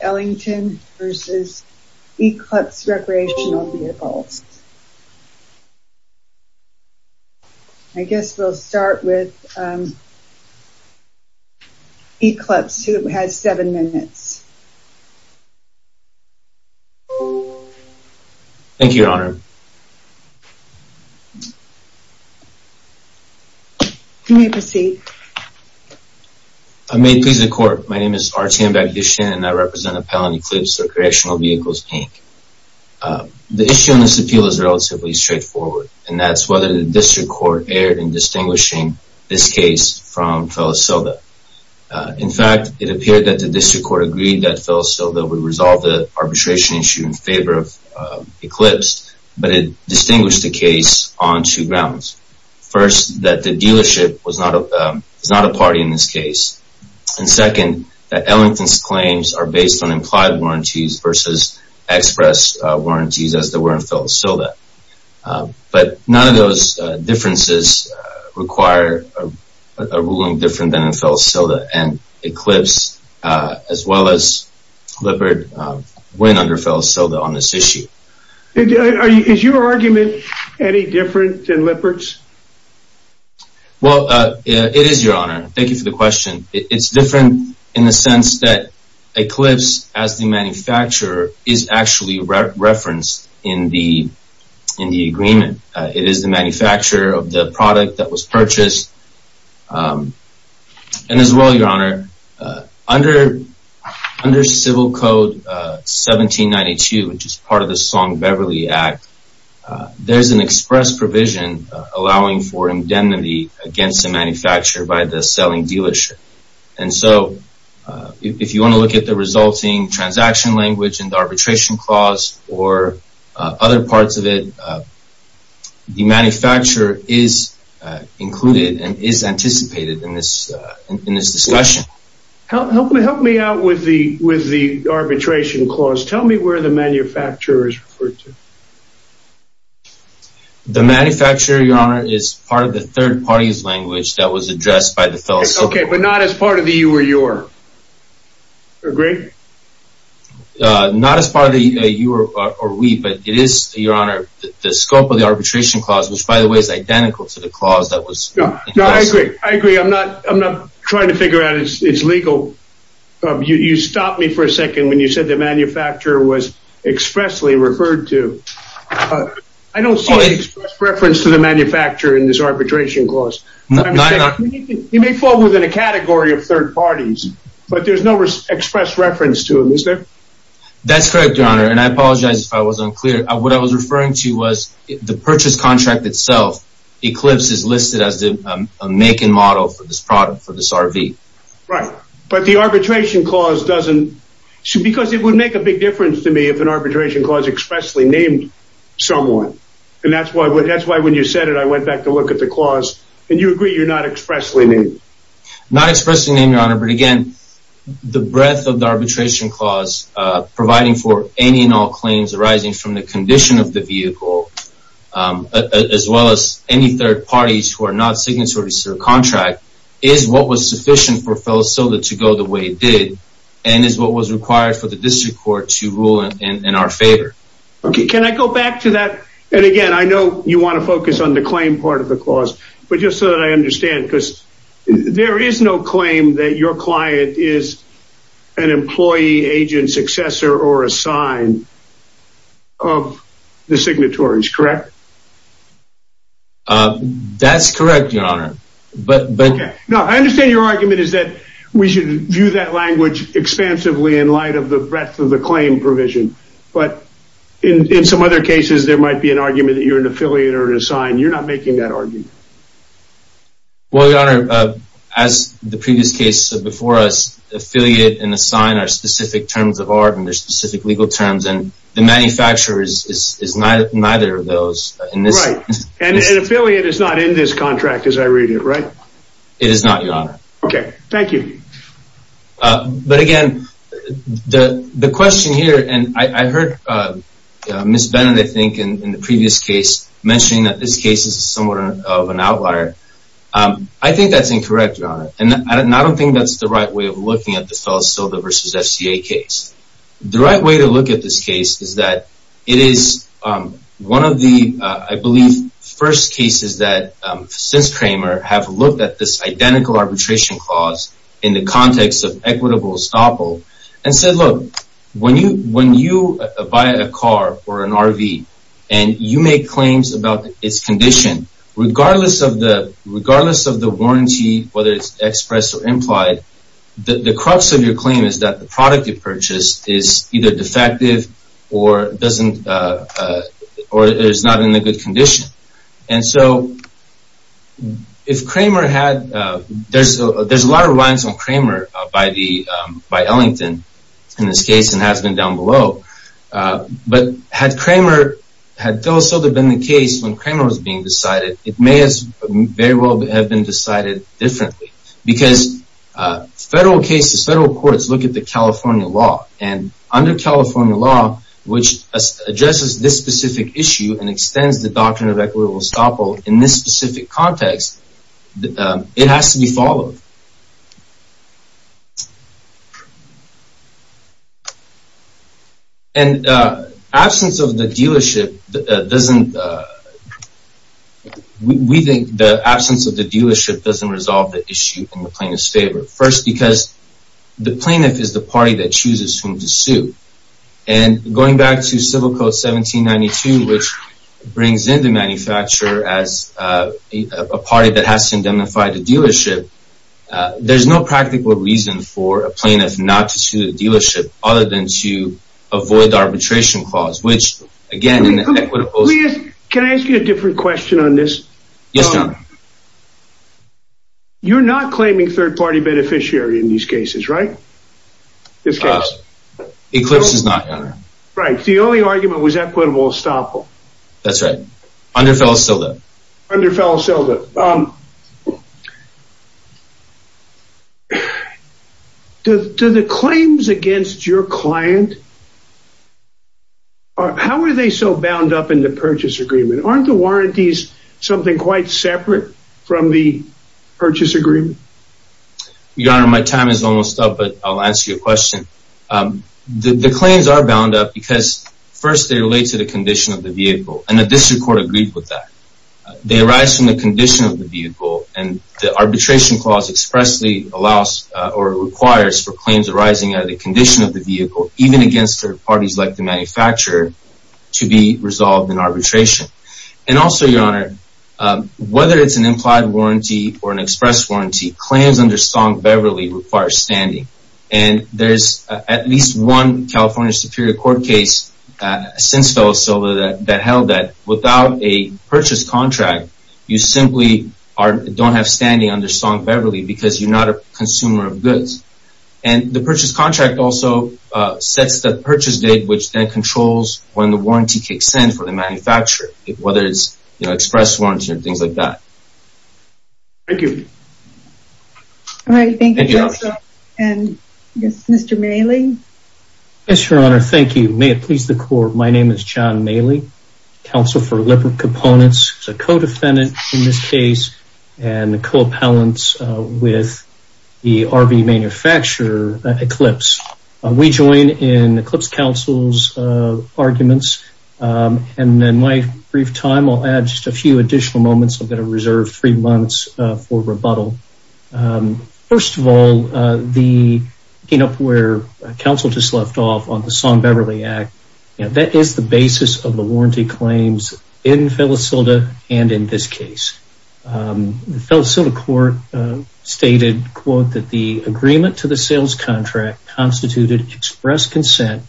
Ellington v. Eclipse Recreational Vehicles I guess we'll start with Eclipse who has seven minutes. Thank you your honor. You may proceed. I may please the court my name is R.T.M. Yashin and I represent Appellant Eclipse Recreational Vehicles Inc. The issue in this appeal is relatively straightforward and that's whether the district court erred in distinguishing this case from Felicilda. In fact it appeared that the district court agreed that Felicilda would resolve the arbitration issue in favor of Eclipse but it distinguished the case on two grounds. First that the dealership was not a party in this case. And second that Ellington's claims are based on implied warranties versus express warranties as they were in Felicilda. But none of those differences require a ruling different than in Felicilda and Eclipse as well as Lippert went under Felicilda on this issue. Is your argument any different than Lippert's? Well it is your honor. Thank you for the question. It's different in the sense that Eclipse as the manufacturer is actually referenced in the agreement. It is the manufacturer of the product that was purchased. And as well your honor under civil code 1792 which is part of the Song allowing for indemnity against the manufacturer by the selling dealership. And so if you want to look at the resulting transaction language and arbitration clause or other parts of it the manufacturer is included and is anticipated in this in this discussion. Help me help me out with the with the arbitration clause. Tell me where the manufacturer is referred to. The manufacturer your honor is part of the third party's language that was addressed by the Felicilda. Okay but not as part of the you or your. Agree? Not as part of the you or we but it is your honor the scope of the arbitration clause which by the way is identical to the clause that was. No I agree I agree I'm not I'm not trying to figure out it's legal. You stopped me for a second when you said the manufacturer was expressly referred to. I don't see an express reference to the manufacturer in this arbitration clause. He may fall within a category of third parties but there's no express reference to him is there? That's correct your honor and I apologize if I was unclear. What I was referring to was the purchase contract itself Eclipse is listed as a make and model for this product for this RV. Right but the arbitration clause doesn't because it would make a big difference to me if an arbitration clause expressly named someone and that's why that's why when you said it I went back to look at the clause and you agree you're not expressly named. Not expressly named your honor but again the breadth of the arbitration clause providing for any and all claims arising from the condition of the vehicle as well as any third parties who are not signatories to the contract is what was sufficient for Felicilda to go the way it did and is what was required for the district court to rule in our favor. Okay can I go back to that and again I know you want to focus on the claim part of the clause but just so that I understand because there is no claim that your client is an employee agent successor or a sign of the signatories correct? That's correct your honor but but no I understand your argument is that we should view that language expansively in light of the breadth of the claim provision but in in some other cases there might be an argument that you're an affiliate or an assigned you're not making that argument. Well your honor as the previous case before us affiliate and assign are specific terms of art and there's specific legal terms and the manufacturer is is neither of those and affiliate is not in this contract as I read it right? It is not your honor. Okay thank you. But again the the question here and I heard Ms. Bennett I think in the previous case mentioning that this case is somewhat of an outlier I think that's incorrect your honor and I don't think that's the right way of looking at the Felicilda versus FCA case. The right way to look at this case is that it is one of the I believe first cases that since Kramer have looked at this identical arbitration clause in the context of equitable estoppel and said look when you when you buy a car or an RV and you make claims about its condition regardless of the regardless of the warranty whether it's expressed or implied the the crux of your claim is that the product you purchased is either defective or doesn't or is not in a good condition and so if Kramer had there's a there's a lot of lines on Kramer by the by Ellington in this case and has been down below but had Kramer had Felicilda been the case when Kramer was being decided it may as very well have been decided differently because federal cases federal courts look at the California law and under California law which addresses this specific issue and extends the doctrine of equitable estoppel in this specific context it has to be followed and absence of the dealership doesn't we think the absence of the dealership doesn't resolve the issue in the plaintiff's favor first because the plaintiff is the party that chooses whom to sue and going back to civil code 1792 which brings in the manufacturer as a party that has to indemnify the dealership there's no practical reason for a plaintiff not to sue the dealership other than to avoid the arbitration clause which again can I ask you a different question on this yes you're not claiming third-party beneficiary in these cases right this case eclipse is not right the only argument was equitable estoppel that's right under Felicilda under Felicilda um do the claims against your client how are they so bound up in the purchase agreement aren't the warranties something quite separate from the purchase agreement your honor my time is almost up but I'll answer your question um the the claims are bound up because first they relate to the condition of the vehicle and the district court agreed with that they arise from the condition of the vehicle and the arbitration clause expressly allows or requires for claims arising out of the condition of the vehicle even against third parties like the manufacturer to be resolved in arbitration and also your honor whether it's an implied warranty or an express warranty claims under song beverly require standing and there's at least one california superior court case since fell so that held that without a purchase contract you simply are don't have standing under song beverly because you're not a consumer of goods and the purchase contract also sets the purchase date which then controls when the warranty kicks in for the manufacturer whether it's you know express warranty and things like that thank you all right thank you and yes mr mailey yes your honor thank you may it please the court my name is john mailey counsel for liver components a co-defendant in this case and the co-appellants with the rv manufacturer eclipse we join in eclipse council's arguments and then my brief time i'll add just a few additional moments i'm going to reserve three months for rebuttal first of all the you know where counsel just left off on the song beverly act and that is the basis of the warranty claims in phyllis hilda and in this case the phyllis hilda court stated quote that the agreement to the sales contract constituted express consent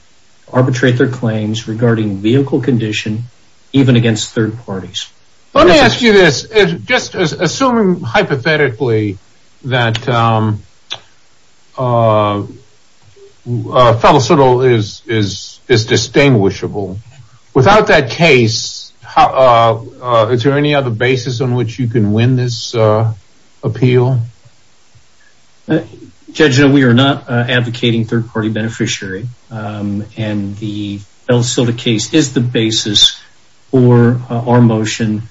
arbitrate their claims regarding vehicle condition even against third parties let me ask you this just assuming hypothetically that um uh phyllis hilda is is is distinguishable without that case how uh is there any other basis on which you can win this uh appeal judge no we are not advocating third phyllis hilda case is the basis for our motion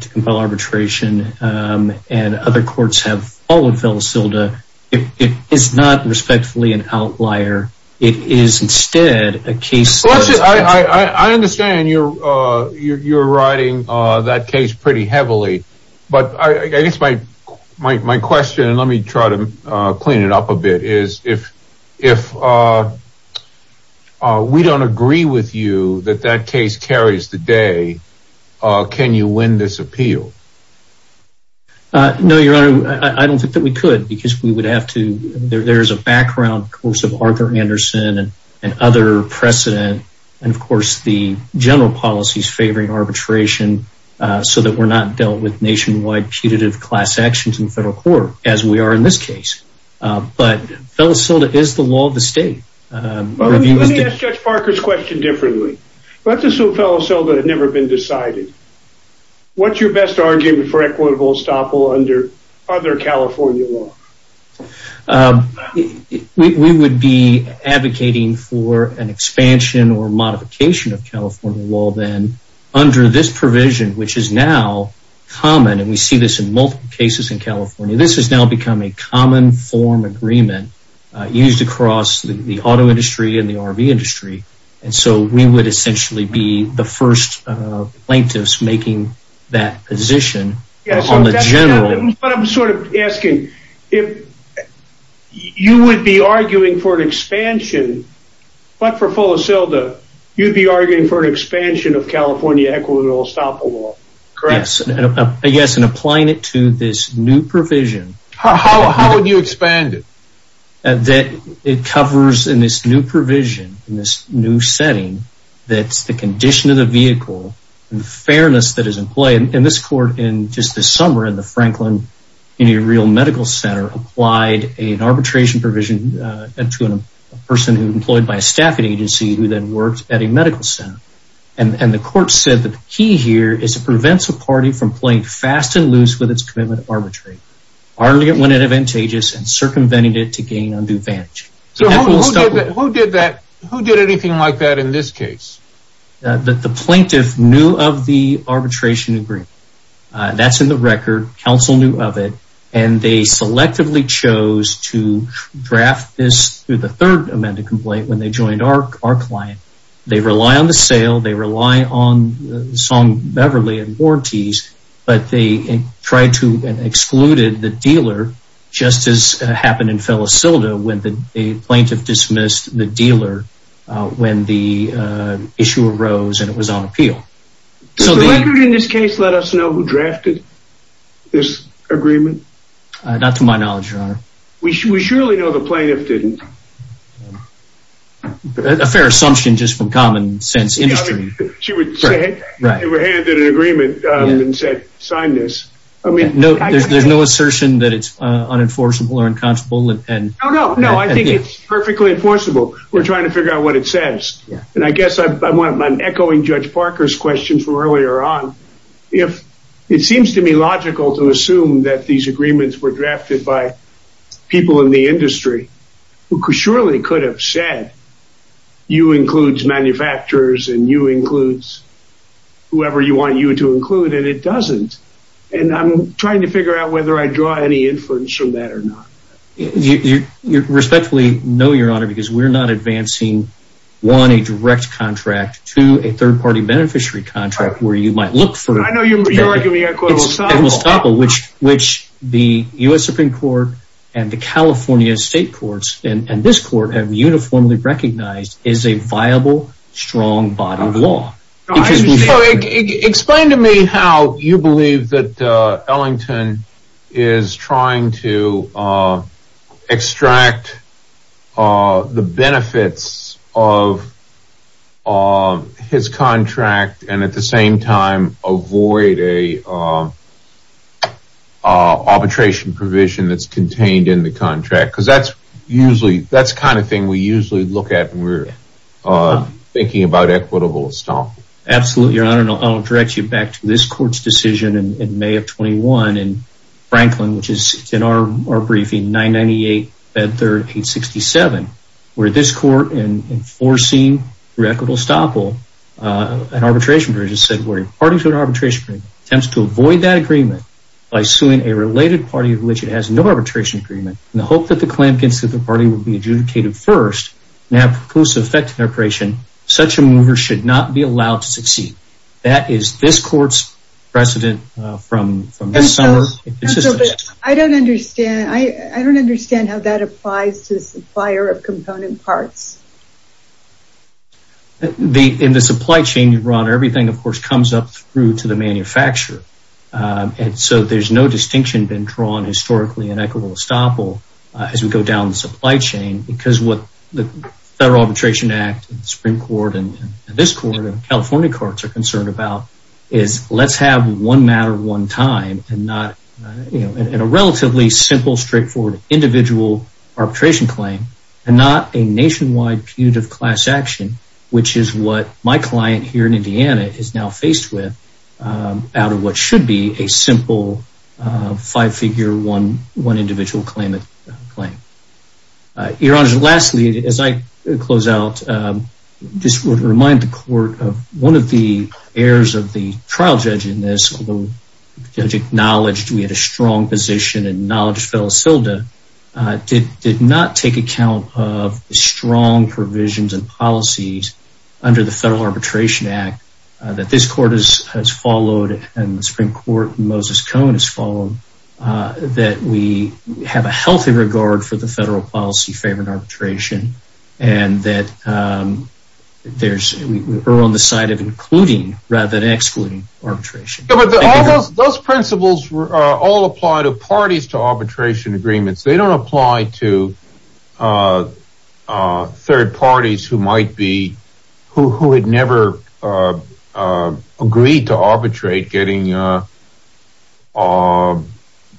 to compel arbitration and other courts have followed phyllis hilda it is not respectfully an outlier it is instead a case i i i understand you're uh you're riding uh that case pretty heavily but i guess my my question and let me try to uh clean it up a bit is if if uh uh we don't agree with you that that case carries the day uh can you win this appeal uh no your honor i don't think that we could because we would have to there's a background course of arthur anderson and other precedent and of course the general policies favoring arbitration uh so that we're not dealt with nationwide putative class actions in federal court as we are in this case but phyllis hilda is the law of the state um let me ask judge parker's question differently let's assume phyllis hilda had never been decided what's your best argument for equitable estoppel under other california law we would be advocating for an expansion or modification of california law then under this provision which is now common and we see this in multiple cases in the past but it's now become a common form agreement used across the auto industry and the rv industry and so we would essentially be the first plaintiffs making that position on the general but i'm sort of asking if you would be arguing for an expansion but for phyllis hilda you'd be arguing for an expansion of california equitable estoppel law correct yes and applying it to this new provision how would you expand it that it covers in this new provision in this new setting that's the condition of the vehicle and the fairness that is in play in this court in just this summer in the franklin any real medical center applied an arbitration provision and to a person who employed by a staffing agency who then worked at a here is it prevents a party from playing fast and loose with its commitment of arbitration hardly it went advantageous and circumvented it to gain undue advantage so who did that who did anything like that in this case that the plaintiff knew of the arbitration agreement that's in the record council knew of it and they selectively chose to draft this through the third amended complaint when they joined our our client they rely on the sale they beverly and mortis but they tried to and excluded the dealer just as happened in phyllis hilda when the plaintiff dismissed the dealer when the issue arose and it was on appeal so the record in this case let us know who drafted this agreement not to my knowledge your honor we surely know the plaintiff didn't a fair assumption just from common sense industry she would have handed an agreement and said sign this i mean no there's no assertion that it's uh unenforceable or inconstable and oh no no i think it's perfectly enforceable we're trying to figure out what it says and i guess i'm i'm echoing judge parker's questions from earlier on if it seems to be logical to assume that these agreements were drafted by people in the industry who surely could have said you includes manufacturers and you includes whoever you want you to include and it doesn't and i'm trying to figure out whether i draw any inference from that or not you you respectfully know your honor because we're not advancing one a direct contract to a third-party beneficiary contract where you might look for i know you're you're giving me a quote which which the u.s supreme court and the california state courts and and this court have uniformly recognized is a viable strong bottom law explain to me how you believe that uh ellington is trying to uh extract uh the benefits of um his contract and at the same time avoid a uh arbitration provision that's contained in the contract because that's usually that's the kind of thing we usually look at when we're uh thinking about equitable stomp absolutely your honor and i'll direct you back to this court's decision in may of 21 in franklin which is in our our briefing 998 bed third 867 where this court in enforcing through equitable stoppel uh an arbitration provision said where parties with arbitration attempts to avoid that agreement by suing a related party of which it has no arbitration agreement in the hope that the clamp gets that the party will be adjudicated first and have propulsive effect separation such a mover should not be allowed to succeed that is this court's precedent uh from from this summer i don't understand i i don't understand how that applies to the supplier of component parts the in the supply chain your honor everything of course comes up through to the manufacturer and so there's no distinction been drawn historically in equitable estoppel as we go down the supply chain because what the federal arbitration act and the supreme court and this court and california courts are concerned about is let's have one matter one time and not you know in a relatively simple straightforward individual arbitration claim and not a nationwide pewd of class action which is what my client here in indiana is now faced with out of what should be a simple uh five figure one one individual claim claim uh your honor lastly as i close out um just would remind the court of one of the heirs of the trial judge in this judge acknowledged we had a strong position and knowledge phyllis hilda uh did did not take account of strong provisions and policies under the federal arbitration act that this court has followed and the supreme court moses cone has followed uh that we have a healthy regard for the federal policy favored arbitration and that um there's we're on the side of including rather than excluding arbitration but all those principles all apply to parties to arbitration agreements they don't apply to uh uh third parties who might be who who had never uh agreed to arbitrate getting uh uh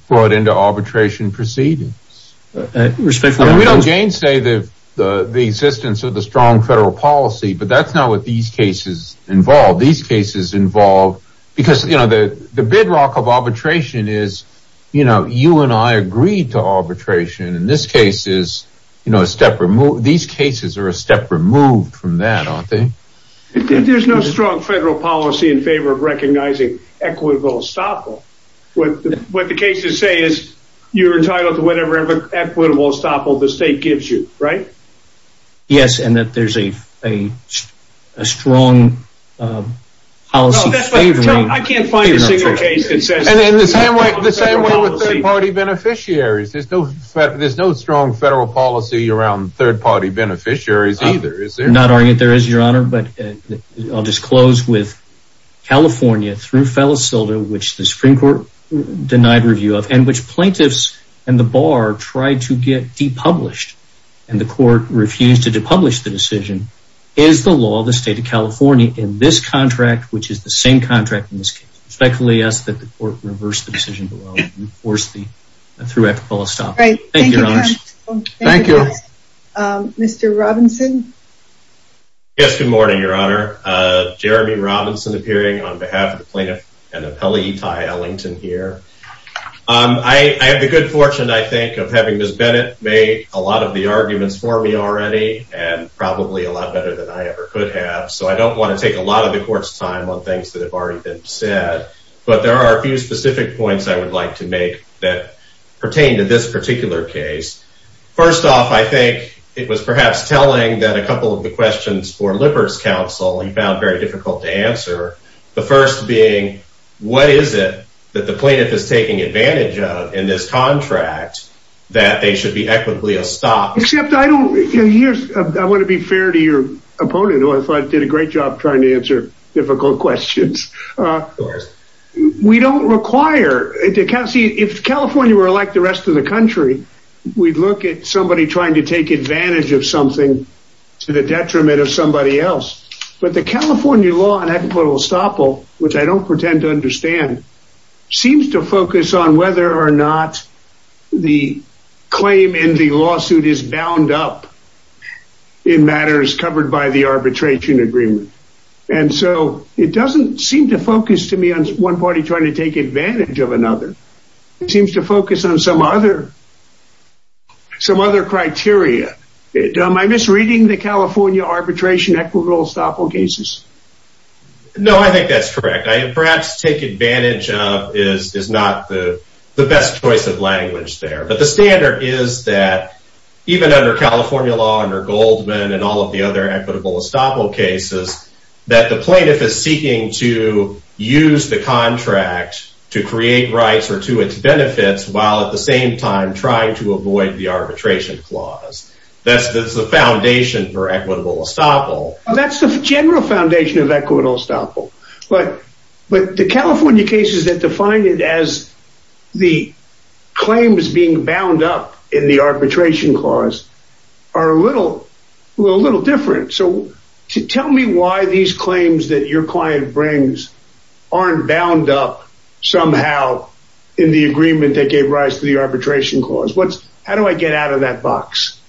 brought into arbitration proceedings respectfully we don't gain say the the the existence of the strong federal policy but that's not what these cases involve these cases involve because you know the the bedrock of arbitration is you know you and i agreed to arbitration in this case is you know a step remove these cases are a step removed from that aren't they there's no strong federal policy in favor of recognizing equitable estoppel what what the cases say is you're entitled to whatever equitable estoppel the state gives you right yes and that there's a a a strong policy i can't find a single case that says and in the same way the same way with third-party beneficiaries there's no there's no strong federal policy around third-party beneficiaries either is there not only that there is your honor but i'll just close with california through fella silva which the supreme court denied review of and which plaintiffs and the bar tried to get de-published and the court refused to de-publish the decision is the law the state of california in this contract which is the same contract in this case respectfully ask that the court reverse the decision below and force the through equitable estoppel thank you thank you um mr robinson yes good morning your honor uh jeremy robinson appearing on behalf of the plaintiff and appellee ty ellington here um i i have the good fortune i think of having miss bennett made a lot of the arguments for me already and probably a lot better than i ever could have so i don't want to take a lot of the court's time on things that have already been said but there are a few specific points i would like to make that pertain to this particular case first off i think it was perhaps telling that a couple of the questions for lippers counsel he found very difficult to answer the first being what is it that the plaintiff is taking advantage of in this contract that they should be equitably a stop except i don't here's i want to be fair to your opponent who i thought did a great job trying to answer difficult questions uh of course we don't require if california were like the rest of the country we'd look at somebody trying to take advantage of something to the detriment of somebody else but the california law and equitable estoppel which i don't pretend to understand seems to focus on whether or not the claim in the lawsuit is bound up in matters covered by the arbitration agreement and so it doesn't seem to focus to me on one party trying to take advantage of another it seems to focus on some other some other criteria am i misreading the california arbitration equitable estoppel cases no i think that's correct i perhaps take advantage of is is not the the best choice of language there but the standard is that even under california law under goldman and all of the other equitable estoppel cases that the plaintiff is seeking to use the contract to create rights or to its benefits while at the same time trying to avoid the arbitration clause that's the foundation for equitable estoppel that's the general foundation of equitable estoppel but but the california cases that define it as the claims being bound up in the a little different so tell me why these claims that your client brings aren't bound up somehow in the agreement that gave rise to the arbitration clause what's how do i get out of that box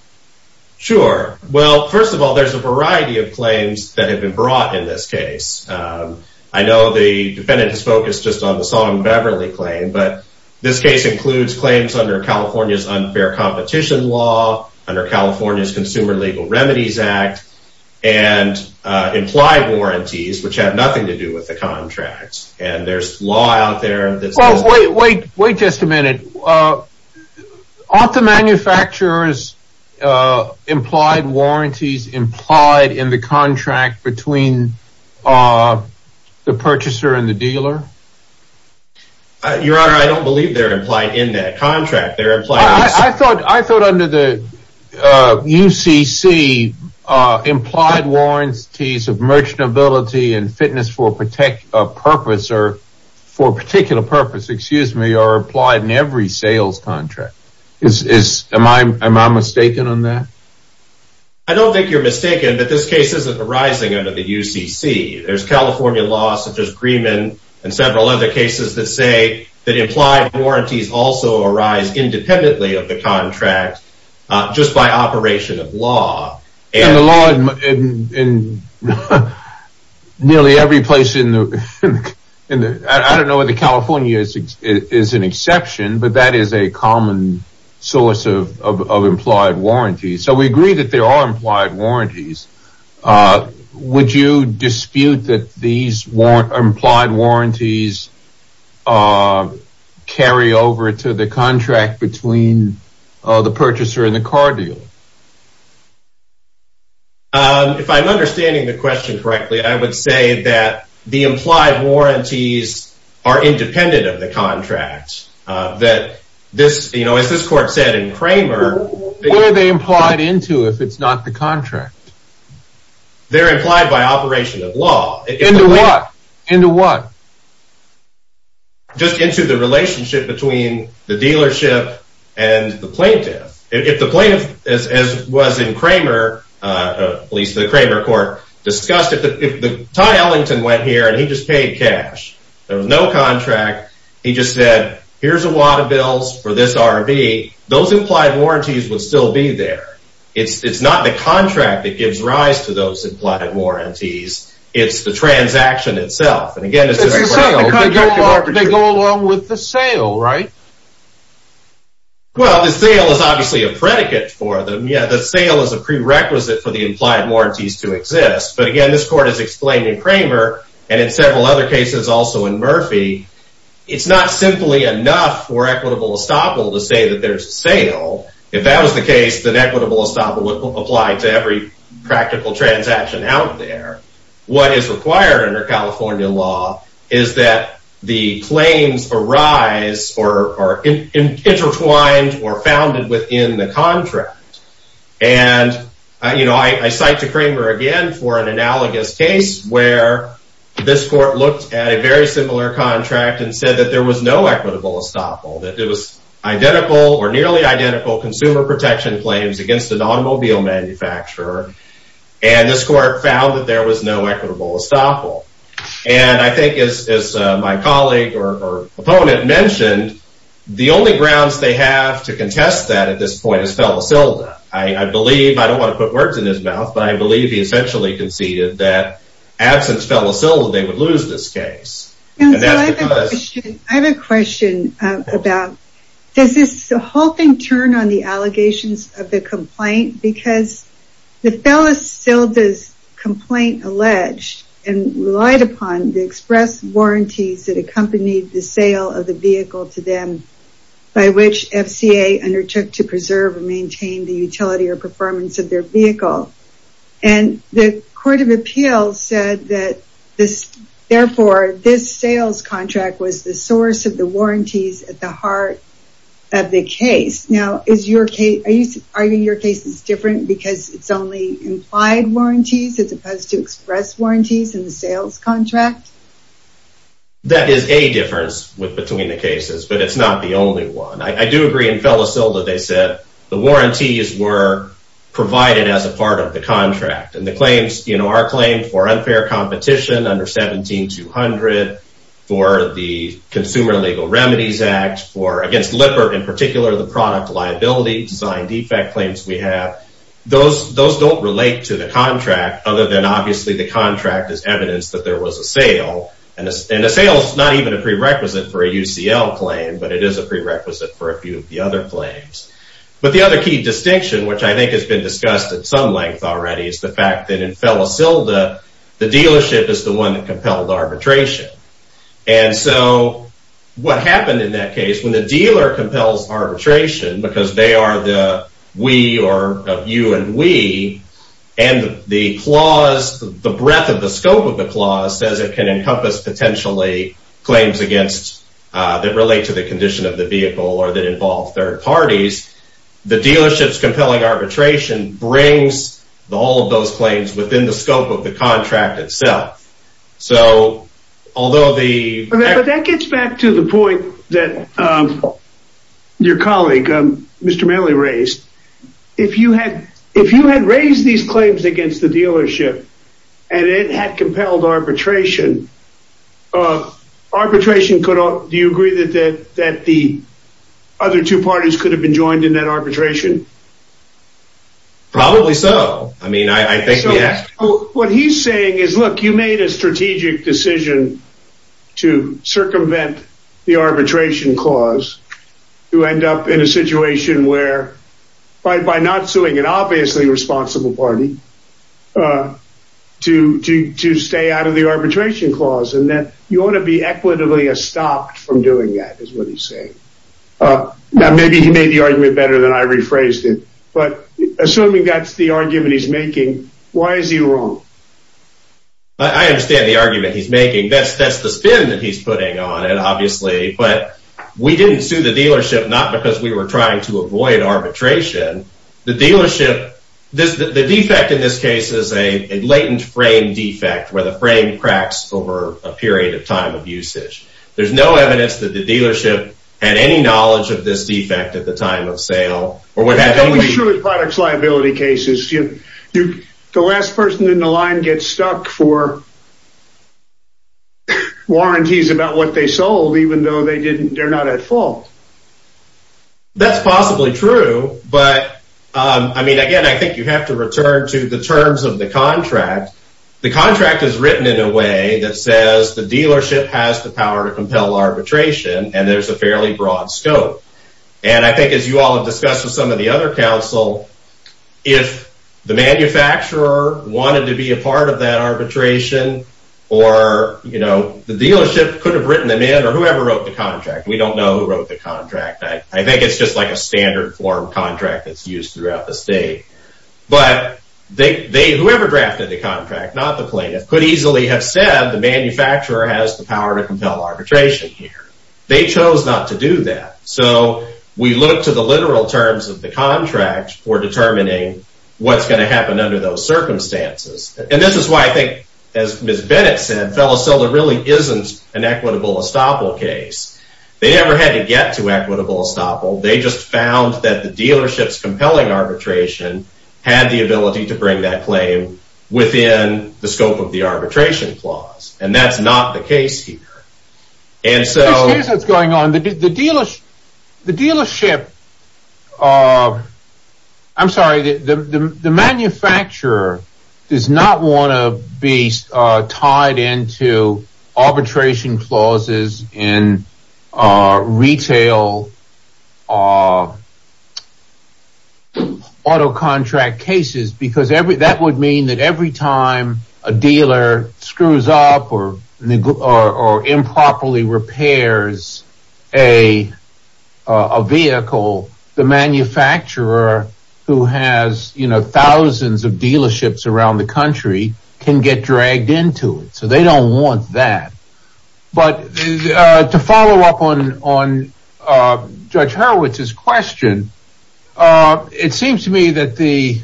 sure well first of all there's a variety of claims that have been brought in this case i know the defendant has focused just on the song beverly claim but this case includes claims under california's unfair competition law under california's consumer legal remedies act and uh implied warranties which have nothing to do with the contracts and there's law out there that's wait wait wait just a minute uh aren't the manufacturers uh implied warranties implied in the contract between uh the purchaser and the dealer your honor i don't believe they're implied in that contract they're implied i thought i thought under the uh ucc uh implied warranties of merchantability and fitness for protect a purpose or for a particular purpose excuse me are applied in every sales contract is is am i am i mistaken on that i don't think you're mistaken but this case isn't arising under the ucc there's california law such as greeman and several other cases that say that implied warranties also arise independently of the contract just by operation of law and the law in nearly every place in the in the i don't know what the california is is an exception but that is a common source of of implied warranties so we agree that there are implied warranties uh would you dispute that these weren't implied warranties uh carry over to the contract between uh the purchaser and the car deal um if i'm understanding the question correctly i would say that the implied warranties are independent of the contract uh that this you know as this court said in kramer where are they implied into if it's not the contract they're implied by operation of law into what into what just into the relationship between the dealership and the plaintiff if the plaintiff as as was in kramer uh at least the kramer court discussed if the ty ellington went here and he just paid cash there was no contract he just said here's a lot of bills for this rv those implied warranties would still be there it's it's not the contract that gives rise to those implied warranties it's the transaction itself and again they go along with the sale right well the sale is obviously a predicate for them yeah the sale is a prerequisite for the implied warranties to exist but again this court has explained in kramer and in several other cases also in murphy it's not simply enough for equitable estoppel to say that there's a sale if that was the case then equitable estoppel apply to every practical transaction out there what is required under california law is that the claims arise or are intertwined or founded within the contract and you know i cite to kramer again for an analogous case where this court looked at a very similar contract and said that there was no equitable estoppel that it identical or nearly identical consumer protection claims against an automobile manufacturer and this court found that there was no equitable estoppel and i think as my colleague or opponent mentioned the only grounds they have to contest that at this point is fellacilda i i believe i don't want to put words in his mouth but i believe he essentially conceded that absence fellacilda they would lose this case and that's because i have a question about does this the whole thing turn on the allegations of the complaint because the fellacilda's complaint alleged and relied upon the express warranties that accompanied the sale of the vehicle to them by which fca undertook to preserve and maintain the utility or performance of their vehicle and the court of appeals said that this therefore this sales contract was the source of the warranties at the heart of the case now is your case are you arguing your case is different because it's only implied warranties as opposed to express warranties in the sales contract that is a difference with between the cases but it's not the only one i do agree in fellacilda they said the warranties were provided as a part of the contract and the claims you know our claim for unfair competition under 17 200 for the consumer legal remedies act for against lipper in particular the product liability design defect claims we have those those don't relate to the contract other than obviously the contract is evidence that there was a sale and a sale is not even a prerequisite for a ucl claim but it is a prerequisite for a few of the other claims but the other key distinction which i think has been discussed at some length already is the fact that in fellacilda the dealership is the one that compelled arbitration and so what happened in that case when the dealer compels arbitration because they are the we are of you and we and the clause the breadth of the scope of the clause says it can encompass potentially claims against that relate to the condition of the vehicle or that involve third parties the dealership's compelling arbitration brings all of those claims within the scope of the contract itself so although the but that gets back to the point that um your colleague um mr mailey raised if you had if you had raised these claims against the dealership and it had compelled arbitration uh arbitration could do you agree that that that the other two parties could have been joined in that arbitration probably so i mean i i think what he's saying is look you made a strategic decision to circumvent the arbitration clause to end up in a situation where by not suing an obviously responsible party uh to to to stay out of the arbitration clause and that you want to be equitably stopped from doing that is what he's saying uh now maybe he made the argument better than i rephrased it but assuming that's the argument he's making why is he wrong i understand the argument he's making that's that's the spin that he's putting on it the dealership this the defect in this case is a latent frame defect where the frame cracks over a period of time of usage there's no evidence that the dealership had any knowledge of this defect at the time of sale or what happened surely products liability cases you the last person in the line gets stuck for warranties about what they sold even though they didn't they're not at fault that's possibly true but um i mean again i think you have to return to the terms of the contract the contract is written in a way that says the dealership has the power to compel arbitration and there's a fairly broad scope and i think as you all have discussed with some of the other council if the manufacturer wanted to be a part of that arbitration or you know the dealership could have written them in or whoever wrote the contract we don't know who wrote the contract i think it's just like a standard form contract that's used throughout the state but they they whoever drafted the contract not the plaintiff could easily have said the manufacturer has the power to compel arbitration here they chose not to do that so we look to the literal terms of the contract for determining what's going to happen under those circumstances and this is why i think as miss bennett said fellacilla really isn't an equitable estoppel case they never had to get to equitable estoppel they just found that the dealership's compelling arbitration had the ability to bring that claim within the scope of the arbitration clause and that's not the case here and so here's what's going on the dealers the dealership i'm sorry the manufacturer does not want to be tied into arbitration clauses in retail auto contract cases because every that would mean that every time a dealer screws up or a manufacturer who has you know thousands of dealerships around the country can get dragged into it so they don't want that but uh to follow up on on uh judge herowitz's question uh it seems to me that the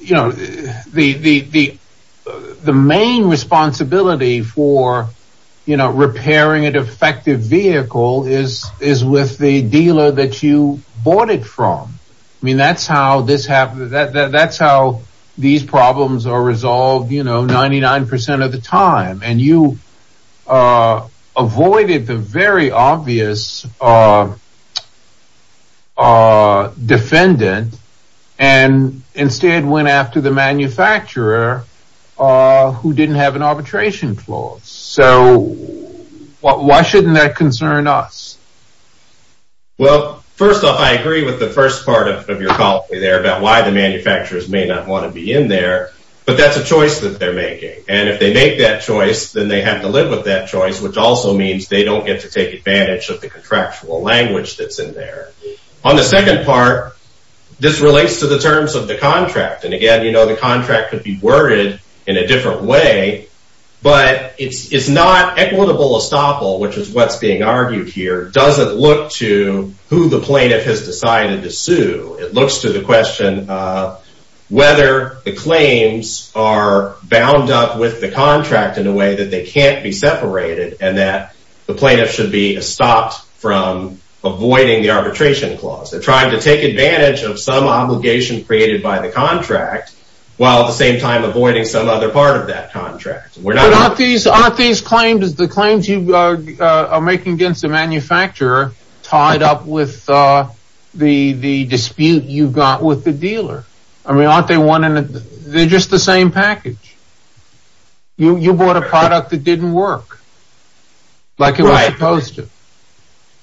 you know the the the the main responsibility for you know repairing an effective vehicle is is with the dealer that you bought it from i mean that's how this happened that that's how these problems are resolved you know 99 of the time and you uh avoided the very obvious uh uh defendant and instead went after the manufacturer uh who didn't have an arbitration clause so why shouldn't that concern us well first off i agree with the first part of your call there about why the manufacturers may not want to be in there but that's a choice that they're making and if they make that choice then they have to live with that choice which also means they don't get to take advantage of the contractual language that's in there on the second part this relates to the terms of the contract and again you know the contract could be worded in a different way but it's it's not equitable estoppel which is what's being argued here doesn't look to who the plaintiff has decided to sue it looks to the question uh whether the claims are bound up with the contract in a way that they can't be separated and that the plaintiff should be stopped from avoiding the arbitration clause they're trying to take avoiding some other part of that contract we're not these aren't these claims the claims you are making against the manufacturer tied up with uh the the dispute you've got with the dealer i mean aren't they one and they're just the same package you you bought a product that didn't work like it was supposed to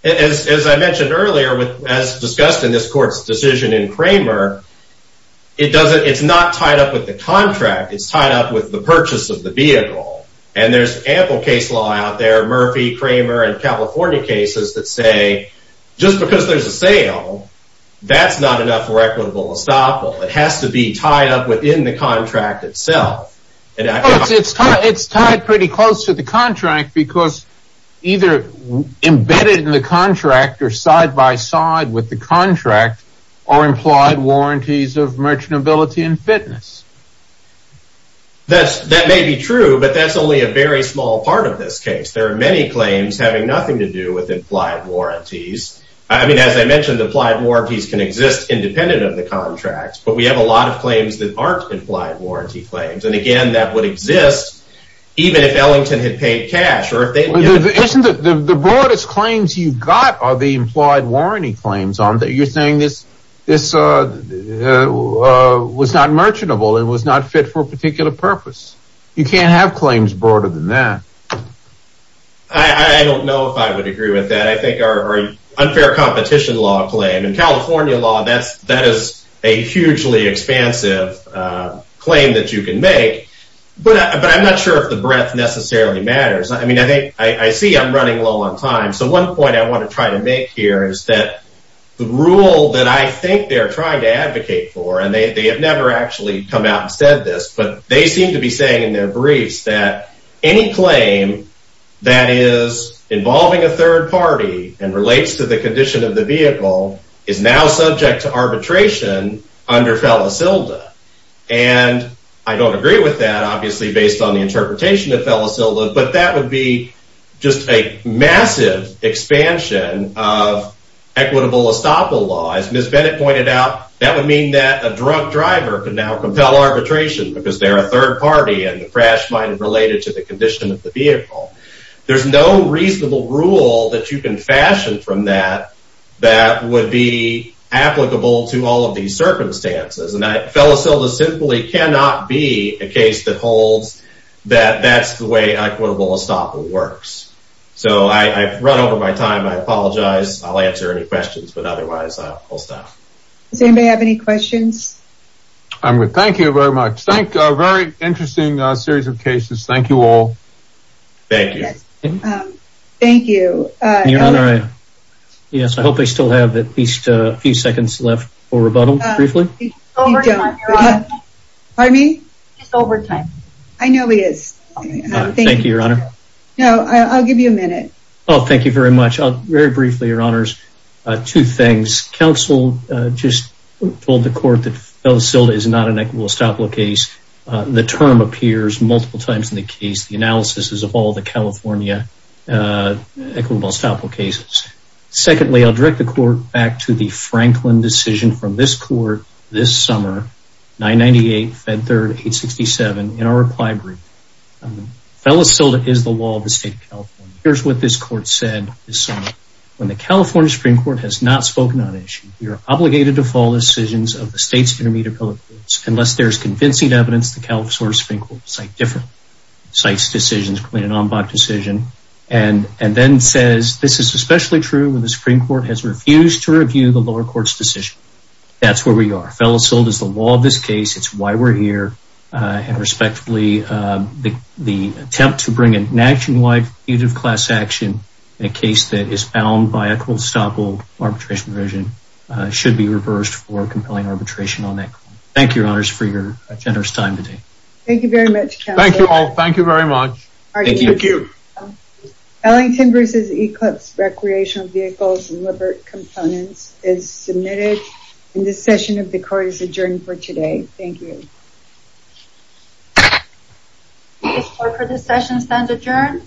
as as i mentioned earlier with as discussed in this court's decision in contract it's tied up with the purchase of the vehicle and there's ample case law out there murphy kramer and california cases that say just because there's a sale that's not enough for equitable estoppel it has to be tied up within the contract itself and it's tied it's tied pretty close to the contract because either embedded in the contract or side by side with the contract are implied warranties of merchantability and fitness that's that may be true but that's only a very small part of this case there are many claims having nothing to do with implied warranties i mean as i mentioned applied warranties can exist independent of the contracts but we have a lot of claims that aren't implied warranty claims and again that would exist even if ellington had paid cash or if they isn't it the broadest claims you've got are the implied warranty claims on that you're saying this this uh was not merchantable and was not fit for a particular purpose you can't have claims broader than that i i don't know if i would agree with that i think our unfair competition law claim in california law that's that is a hugely expansive uh claim that you can make but but i'm not sure the breadth necessarily matters i mean i think i see i'm running low on time so one point i want to try to make here is that the rule that i think they're trying to advocate for and they have never actually come out and said this but they seem to be saying in their briefs that any claim that is involving a third party and relates to the condition of the vehicle is now subject to but that would be just a massive expansion of equitable estoppel law as miss bennett pointed out that would mean that a drunk driver could now compel arbitration because they're a third party and the crash might have related to the condition of the vehicle there's no reasonable rule that you can fashion from that that would be applicable to all of these circumstances and i fellacilda simply cannot be a case that holds that that's the way equitable estoppel works so i i've run over my time i apologize i'll answer any questions but otherwise i'll stop does anybody have any questions i'm good thank you very much thank a very interesting uh series of cases thank you all thank you um thank you uh your honor yes i hope they still have at least a don't pardon me just over time i know he is thank you your honor no i'll give you a minute oh thank you very much i'll very briefly your honors uh two things council uh just told the court that fellacilda is not an equitable estoppel case uh the term appears multiple times in the case the analysis is of all the california uh equitable estoppel cases secondly i'll direct the court back to the franklin decision from this court this summer 998 fed third 867 in our reply group fellacilda is the law of the state of california here's what this court said this summer when the california supreme court has not spoken on issue we are obligated to fall decisions of the state's intermediate public courts unless there's convincing evidence the california supreme court site different sites decisions between an ombud decision and and then says this is especially true when the supreme court has refused to review the lower court's decision that's where we are fellacilda is the law of this case it's why we're here uh and respectfully uh the the attempt to bring a nationwide fugitive class action in a case that is bound by equitable estoppel arbitration provision uh should be reversed for compelling arbitration on that thank you your honors for your generous time today thank you very much thank you all thank you very much thank you thank you ellington versus eclipse recreational vehicles and liver components is submitted in this session of the court is adjourned for today thank you this court for this session stands adjourned